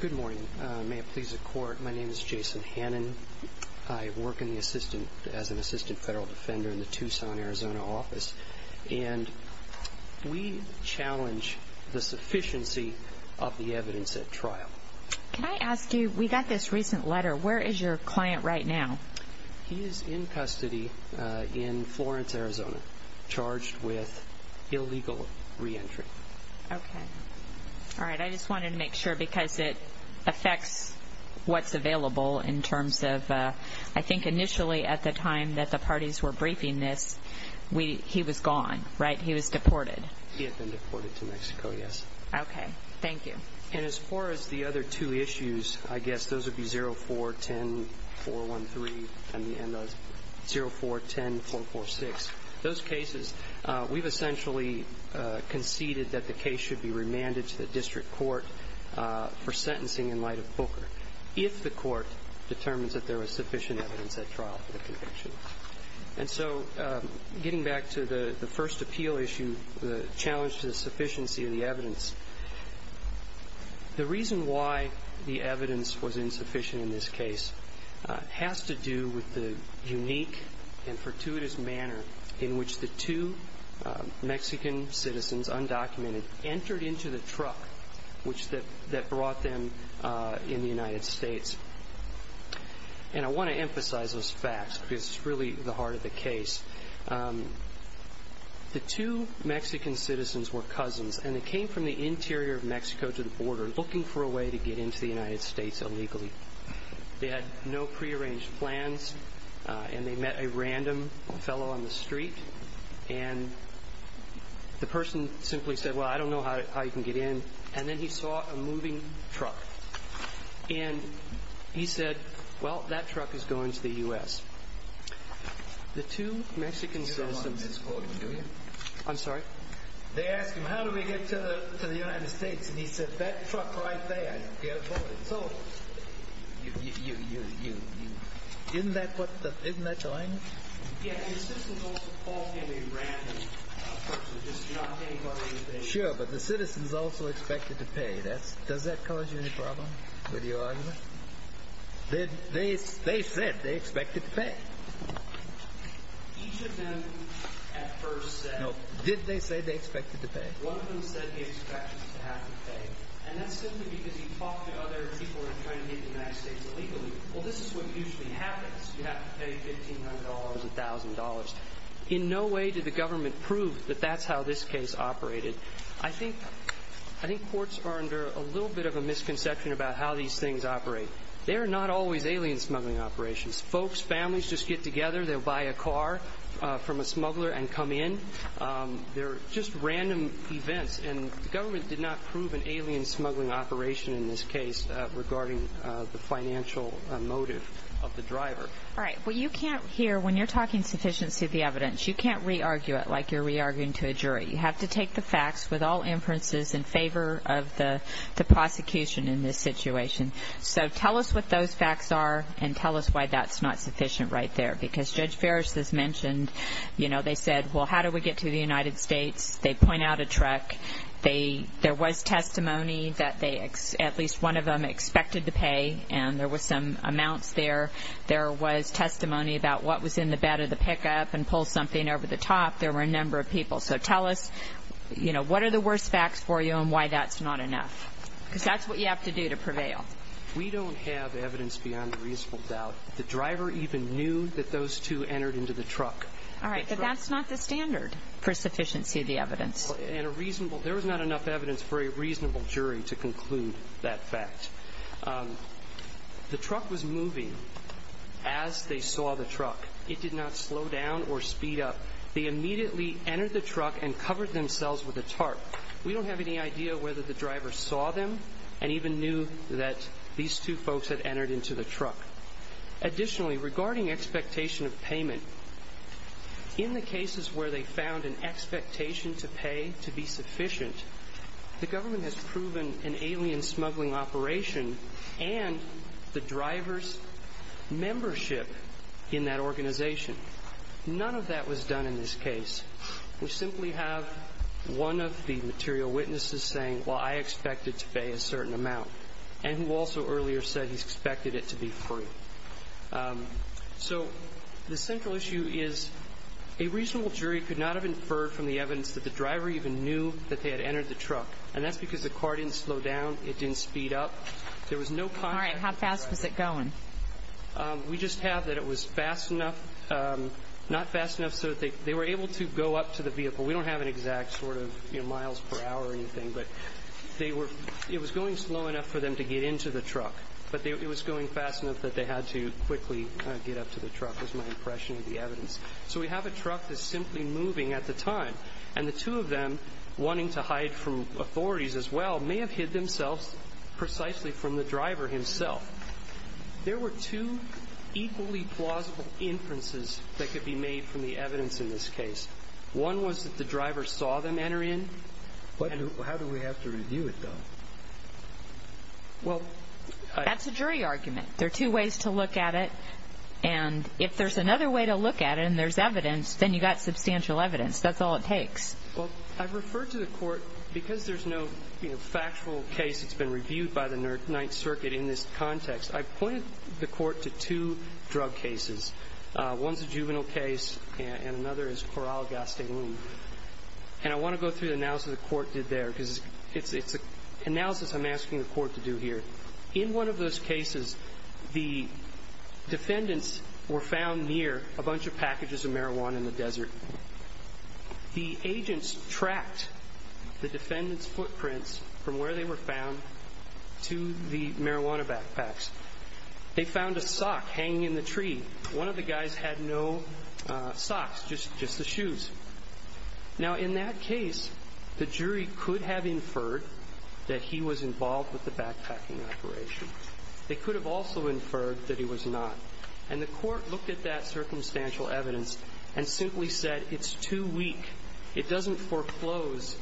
Good morning. May it please the court, my name is Jason Hannon. I work as an assistant federal defender in the Tucson, Arizona office. And we challenge the sufficiency of the evidence at trial. Can I ask you, we got this recent letter, where is your client right now? He is in custody in Florence, Arizona, charged with illegal re-entry. Okay. All right. I just wanted to make sure because it affects what's available in terms of, I think initially at the time that the parties were briefing this, he was gone, right? He was deported. He had been deported to Mexico, yes. Okay. Thank you. And as far as the other two issues, I guess those would be 04-10-413 and 04-10-446. Those cases, we've essentially conceded that the case should be remanded to the district court for sentencing in light of Booker, if the court determines that there was sufficient evidence at trial for the conviction. And so getting back to the first appeal issue, the challenge to the sufficiency of the evidence, the reason why the evidence was insufficient in this case has to do with the unique and fortuitous manner in which the two Mexican citizens, undocumented, entered into the truck that brought them in the United States. And I want to emphasize those facts because it's really the heart of the case. The two Mexican citizens were cousins, and they came from the interior of Mexico to the border, looking for a way to get into the United States illegally. They had no prearranged plans, and they met a random fellow on the street, and the person simply said, well, I don't know how you can get in. And then he saw a moving truck, and he said, well, that truck is going to the U.S. The two Mexican citizens. I'm sorry? They asked him, how do we get to the United States? And he said, that truck right there. So you, isn't that what the, isn't that the language? Yeah, and the citizens also called him a random person, just not paying for anything. Sure, but the citizens also expected to pay. Does that cause you any problem with your argument? They said they expected to pay. Each of them at first said. Did they say they expected to pay? One of them said he expected to have to pay, and that's simply because he talked to other people who were trying to get into the United States illegally. Well, this is what usually happens. You have to pay $1,500, $1,000. In no way did the government prove that that's how this case operated. I think courts are under a little bit of a misconception about how these things operate. They are not always alien smuggling operations. Folks, families just get together, they'll buy a car from a smuggler and come in. They're just random events, and the government did not prove an alien smuggling operation in this case regarding the financial motive of the driver. All right, well, you can't hear, when you're talking sufficiency of the evidence, you can't re-argue it like you're re-arguing to a jury. But you have to take the facts with all inferences in favor of the prosecution in this situation. So tell us what those facts are and tell us why that's not sufficient right there. Because Judge Ferris has mentioned, you know, they said, well, how do we get to the United States? They point out a truck. There was testimony that at least one of them expected to pay, and there were some amounts there. There was testimony about what was in the bed of the pickup and pull something over the top. There were a number of people. So tell us, you know, what are the worst facts for you and why that's not enough? Because that's what you have to do to prevail. We don't have evidence beyond a reasonable doubt. The driver even knew that those two entered into the truck. All right, but that's not the standard for sufficiency of the evidence. And a reasonable – there was not enough evidence for a reasonable jury to conclude that fact. The truck was moving as they saw the truck. It did not slow down or speed up. They immediately entered the truck and covered themselves with a tarp. We don't have any idea whether the driver saw them and even knew that these two folks had entered into the truck. Additionally, regarding expectation of payment, in the cases where they found an expectation to pay to be sufficient, the government has proven an alien smuggling operation and the driver's membership in that organization. None of that was done in this case. We simply have one of the material witnesses saying, well, I expect it to pay a certain amount, and who also earlier said he expected it to be free. So the central issue is a reasonable jury could not have inferred from the evidence that the driver even knew that they had entered the truck, and that's because the car didn't slow down, it didn't speed up. There was no – All right. How fast was it going? We just have that it was fast enough – not fast enough so that they were able to go up to the vehicle. We don't have an exact sort of miles per hour or anything, but it was going slow enough for them to get into the truck, but it was going fast enough that they had to quickly get up to the truck, was my impression of the evidence. So we have a truck that's simply moving at the time, and the two of them wanting to hide from authorities as well may have hid themselves precisely from the driver himself. There were two equally plausible inferences that could be made from the evidence in this case. One was that the driver saw them enter in. How do we have to review it, though? Well, I – That's a jury argument. There are two ways to look at it, and if there's another way to look at it and there's evidence, then you've got substantial evidence. That's all it takes. Well, I've referred to the court because there's no factual case that's been reviewed by the Ninth Circuit in this context. I've pointed the court to two drug cases. One's a juvenile case, and another is Corral-Gastelum. And I want to go through the analysis the court did there because it's an analysis I'm asking the court to do here. In one of those cases, the agents tracked the defendant's footprints from where they were found to the marijuana backpacks. They found a sock hanging in the tree. One of the guys had no socks, just the shoes. Now, in that case, the jury could have inferred that he was involved with the backpacking operation. They could have also inferred that he was not. And the court looked at that circumstantial evidence and simply said it's too weak. It doesn't foreclose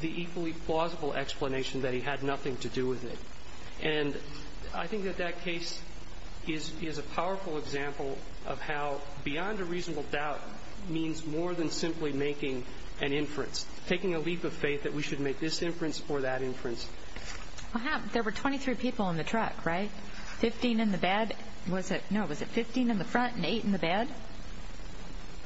the equally plausible explanation that he had nothing to do with it. And I think that that case is a powerful example of how beyond a reasonable doubt means more than simply making an inference, taking a leap of faith that we should make this inference or that inference. There were 23 people in the truck, right? 15 in the bed. No, was it 15 in the front and 8 in the bed?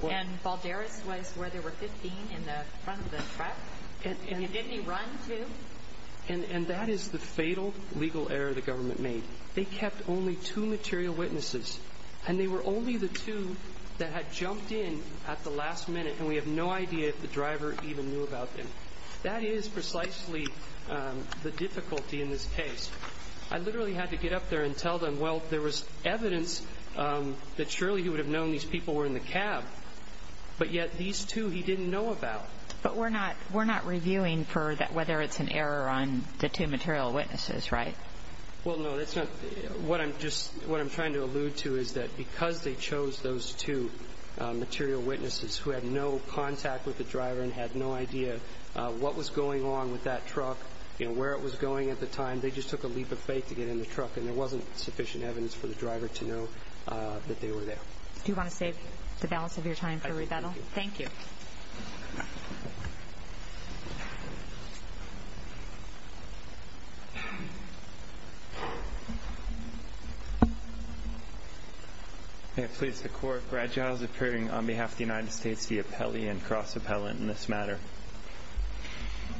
And Balderas was where there were 15 in the front of the truck? And did he run, too? And that is the fatal legal error the government made. They kept only 2 material witnesses, and they were only the 2 that had jumped in at the last minute, and we have no idea if the driver even knew about them. That is precisely the difficulty in this case. I literally had to get up there and tell them, well, there was evidence that surely he would have known these people were in the cab, but yet these 2 he didn't know about. But we're not reviewing for whether it's an error on the 2 material witnesses, right? Well, no. What I'm trying to allude to is that because they chose those 2 material witnesses who had no contact with the driver and had no idea what was going on with that truck and where it was going at the time, they just took a leap of faith to get in the truck and there wasn't sufficient evidence for the driver to know that they were there. Do you want to save the balance of your time for rebuttal? I do. Thank you. May it please the Court, Brad Giles appearing on behalf of the United States, the appellee and cross-appellant in this matter.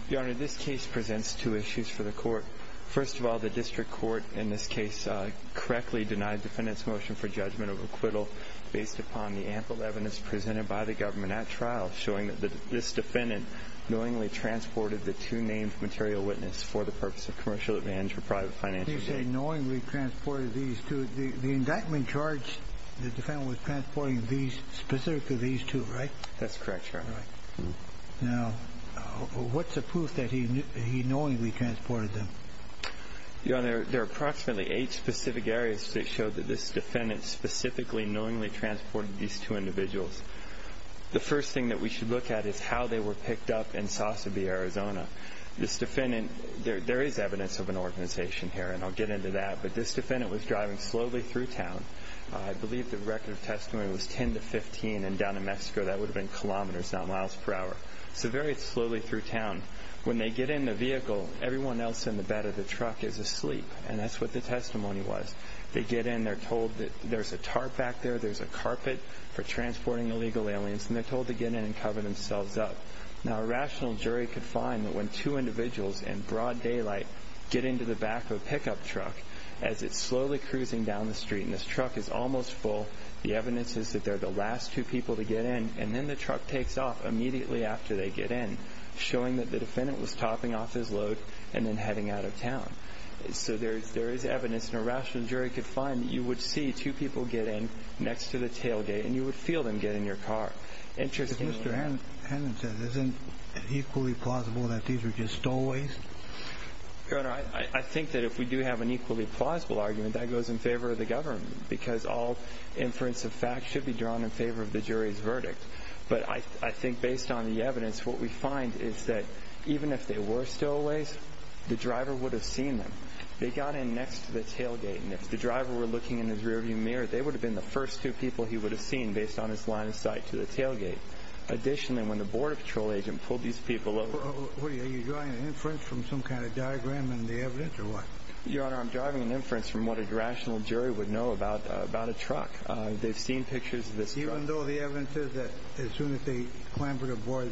Your Honor, this case presents 2 issues for the Court. First of all, the District Court in this case correctly denied the defendant's motion for judgment of acquittal based upon the ample evidence presented by the government at trial showing that this defendant knowingly transported the 2 named material witnesses for the purpose of commercial advantage for private financial gain. You say knowingly transported these 2. The indictment charged the defendant with transporting specifically these 2, right? That's correct, Your Honor. Now, what's the proof that he knowingly transported them? Your Honor, there are approximately 8 specific areas that show that this defendant specifically knowingly transported these 2 individuals. The first thing that we should look at is how they were picked up in Sossabee, Arizona. This defendant, there is evidence of an organization here and I'll get into that, but this defendant was driving slowly through town. I believe the record of testimony was 10 to 15 and down in Mexico that would have been kilometers, not miles per hour. So very slowly through town. When they get in the vehicle, everyone else in the bed of the truck is asleep and that's what the testimony was. They get in, they're told that there's a tarp back there, there's a carpet for transporting illegal aliens and they're told to get in and cover themselves up. Now, a rational jury could find that when 2 individuals in broad daylight get into the back of a pickup truck as it's slowly cruising down the street and this truck is almost full, the evidence is that they're the last 2 people to get in and then the truck takes off immediately after they get in, showing that the defendant was topping off his load and then heading out of town. So there is evidence and a rational jury could find that you would see 2 people get in next to the tailgate and you would feel them get in your car. Interesting. As Mr. Hannan said, isn't it equally plausible that these were just stowaways? Your Honor, I think that if we do have an equally plausible argument, that goes in favor of the government because all inference of fact should be drawn in favor of the jury's verdict. But I think based on the evidence, what we find is that even if they were stowaways, the driver would have seen them. They got in next to the tailgate and if the driver were looking in his rearview mirror, they would have been the first 2 people he would have seen based on his line of sight to the tailgate. Additionally, when the Border Patrol agent pulled these people over... Are you drawing an inference from some kind of diagram in the evidence or what? Your Honor, I'm drawing an inference from what a rational jury would know about a truck. They've seen pictures of this truck. Even though the evidence is that as soon as they clambered aboard,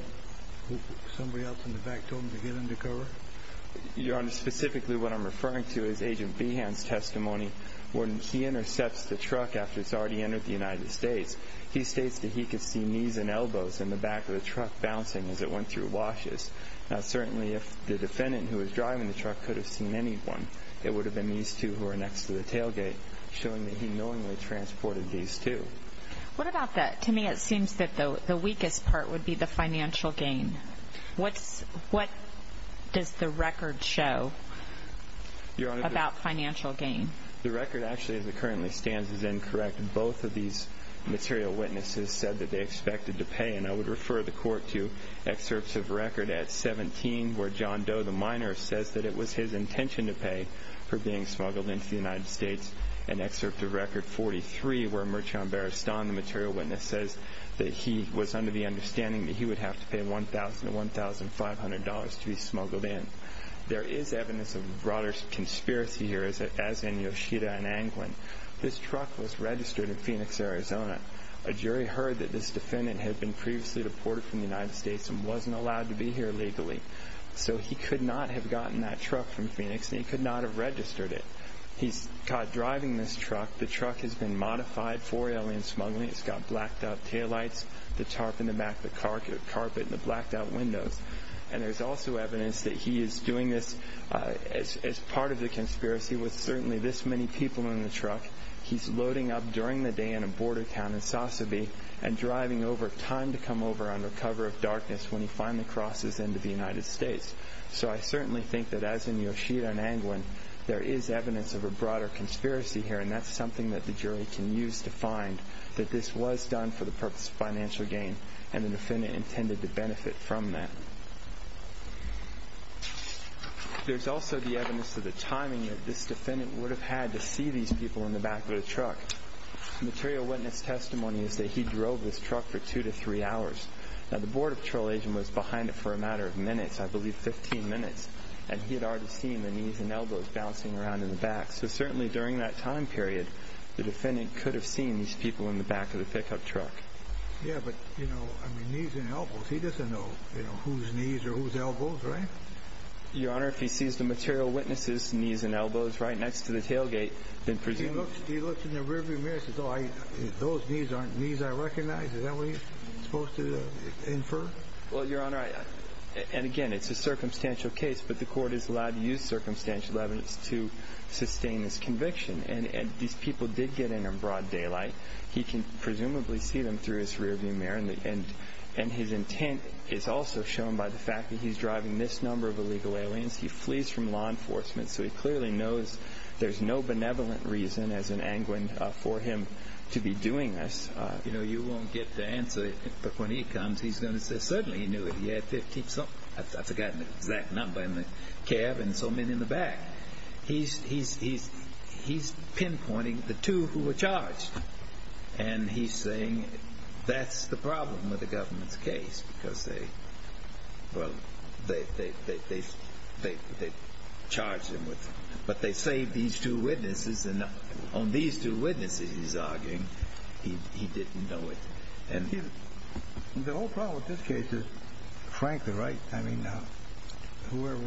somebody else in the back told them to get under cover? Your Honor, specifically what I'm referring to is Agent Behan's testimony when he intercepts the truck after it's already entered the United States. He states that he could see knees and elbows in the back of the truck bouncing as it went through washes. Now certainly if the defendant who was driving the truck could have seen anyone, it would have been these 2 who were next to the tailgate, showing that he knowingly transported these 2. What about the... To me it seems that the weakest part would be the financial gain. What does the record show about financial gain? Your Honor, the record actually as it currently stands is incorrect. Both of these material witnesses said that they expected to pay, and I would refer the court to excerpts of record at 17 where John Doe, the miner, says that it was his intention to pay for being smuggled into the United States, and excerpt of record 43 where Mirchand Baristan, the material witness, says that he was under the understanding that he would have to pay $1,000 to $1,500 to be smuggled in. There is evidence of a broader conspiracy here, as in Yoshida and Anglin. This truck was registered in Phoenix, Arizona. A jury heard that this defendant had been previously deported from the United States and wasn't allowed to be here legally. So he could not have gotten that truck from Phoenix, and he could not have registered it. He's caught driving this truck. The truck has been modified for alien smuggling. It's got blacked-out taillights, the tarp in the back, the carpet, and the blacked-out windows. And there's also evidence that he is doing this as part of the conspiracy with certainly this many people in the truck. He's loading up during the day in a border town in Sasabe and driving over time to come over under cover of darkness when he finally crosses into the United States. So I certainly think that, as in Yoshida and Anglin, there is evidence of a broader conspiracy here, and that's something that the jury can use to find that this was done for the purpose of financial gain and the defendant intended to benefit from that. There's also the evidence of the timing that this defendant would have had to see these people in the back of the truck. Material witness testimony is that he drove this truck for two to three hours. Now, the Border Patrol agent was behind it for a matter of minutes, I believe 15 minutes, and he had already seen the knees and elbows bouncing around in the back. So certainly during that time period, the defendant could have seen these people in the back of the pickup truck. Yeah, but, you know, I mean, knees and elbows. He doesn't know whose knees or whose elbows, right? Your Honor, if he sees the material witness's knees and elbows right next to the tailgate, then presumably... If he looks in the rearview mirror and says, oh, those knees aren't knees I recognize, is that what he's supposed to infer? Well, Your Honor, and again, it's a circumstantial case, but the court is allowed to use circumstantial evidence to sustain this conviction, and these people did get in in broad daylight. He can presumably see them through his rearview mirror, and his intent is also shown by the fact that he's driving this number of illegal aliens. He flees from law enforcement, so he clearly knows there's no benevolent reason, as in Angwin, for him to be doing this. You know, you won't get the answer, but when he comes, he's going to say, certainly he knew it. He had 15-something. I've forgotten the exact number in the cab and so many in the back. He's pinpointing the two who were charged, and he's saying that's the problem with the government's case because they, well, they charged him with it. But they saved these two witnesses, and on these two witnesses, he's arguing, he didn't know it. The whole problem with this case is, frankly, right? I mean, whoever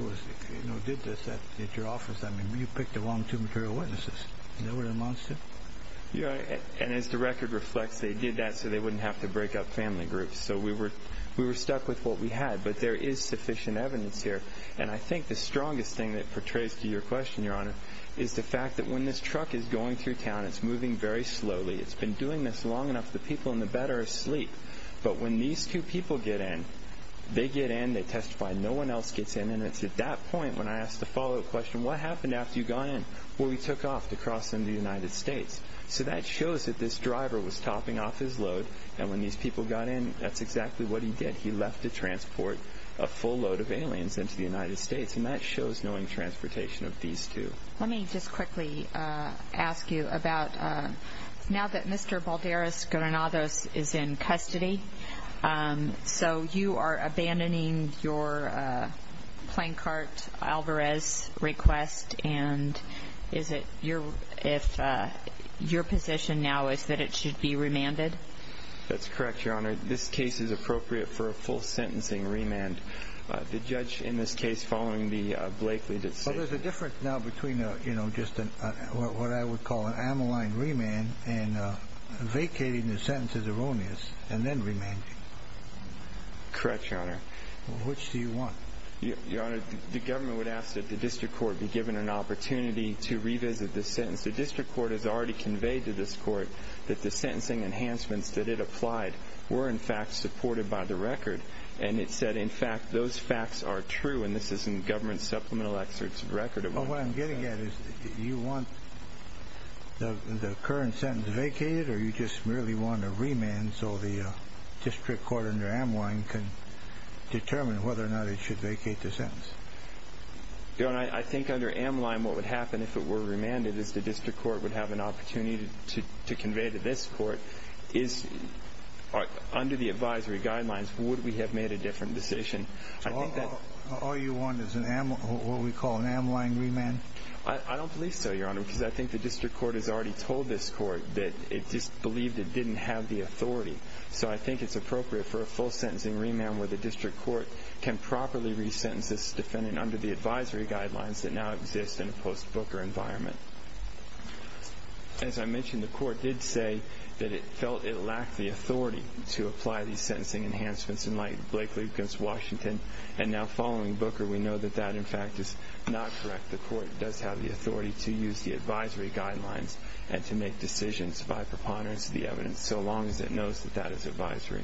did this at your office, I mean, you picked the wrong two material witnesses. Is that what it amounts to? Yeah, and as the record reflects, they did that so they wouldn't have to break up family groups. So we were stuck with what we had, but there is sufficient evidence here. And I think the strongest thing that portrays to your question, Your Honor, is the fact that when this truck is going through town, it's moving very slowly. It's been doing this long enough, the people in the bed are asleep. But when these two people get in, they get in, they testify, no one else gets in, and it's at that point when I ask the follow-up question, what happened after you got in? Well, we took off to cross into the United States. So that shows that this driver was topping off his load, and when these people got in, that's exactly what he did. He left to transport a full load of aliens into the United States, and that shows knowing transportation of these two. Let me just quickly ask you about, now that Mr. Balderas Granados is in custody, so you are abandoning your Plancart Alvarez request, and is it your position now is that it should be remanded? That's correct, Your Honor. This case is appropriate for a full sentencing remand. The judge in this case, following the Blakely decision... Well, there's a difference now between, you know, just what I would call an Amoline remand and vacating the sentence as erroneous and then remanding. Correct, Your Honor. Which do you want? Your Honor, the government would ask that the district court be given an opportunity to revisit this sentence. The district court has already conveyed to this court that the sentencing enhancements that it applied were in fact supported by the record, and it said, in fact, those facts are true, and this is in government supplemental excerpts of record. Well, what I'm getting at is you want the current sentence vacated or you just merely want a remand so the district court under Amoline can determine whether or not it should vacate the sentence? Your Honor, I think under Amoline what would happen if it were remanded because the district court would have an opportunity to convey to this court is under the advisory guidelines would we have made a different decision. So all you want is what we call an Amoline remand? I don't believe so, Your Honor, because I think the district court has already told this court that it just believed it didn't have the authority. So I think it's appropriate for a full sentencing remand where the district court can properly resentence this defendant under the advisory guidelines that now exist in a post-Booker environment. As I mentioned, the court did say that it felt it lacked the authority to apply these sentencing enhancements in Lake Lucas, Washington, and now following Booker we know that that, in fact, is not correct. The court does have the authority to use the advisory guidelines and to make decisions by preponderance of the evidence so long as it knows that that is advisory.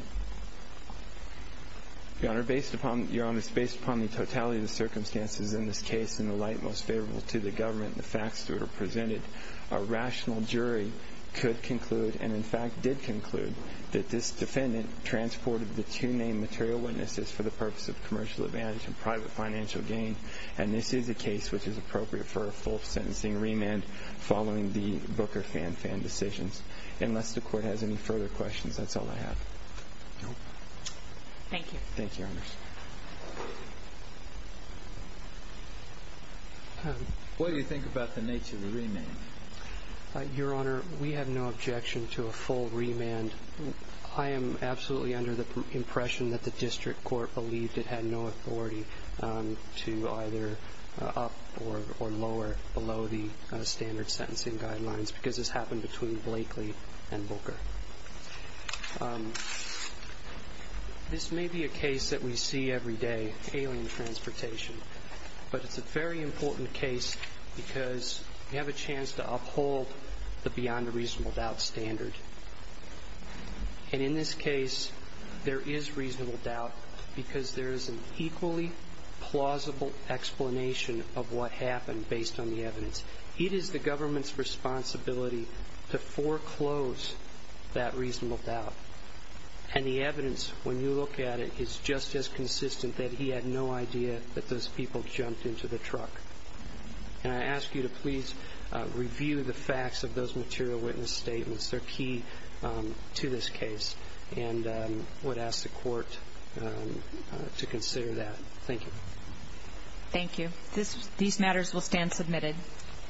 Your Honor, based upon the totality of the circumstances in this case in the light most favorable to the government and the facts to it are presented, a rational jury could conclude, and in fact did conclude, that this defendant transported the two main material witnesses for the purpose of commercial advantage and private financial gain, and this is a case which is appropriate for a full sentencing remand following the Booker fan-fan decisions. Unless the court has any further questions, that's all I have. Thank you. Thank you, Your Honor. What do you think about the nature of the remand? Your Honor, we have no objection to a full remand. I am absolutely under the impression that the district court believed it had no authority to either up or lower below the standard sentencing guidelines because this happened between Blakely and Booker. This may be a case that we see every day, alien transportation, but it's a very important case because we have a chance to uphold the beyond a reasonable doubt standard. And in this case, there is reasonable doubt because there is an equally plausible explanation of what happened based on the evidence. It is the government's responsibility to foreclose that reasonable doubt. And the evidence, when you look at it, is just as consistent that he had no idea that those people jumped into the truck. And I ask you to please review the facts of those material witness statements. They're key to this case and would ask the court to consider that. Thank you. Thank you. These matters will stand submitted. Thank you.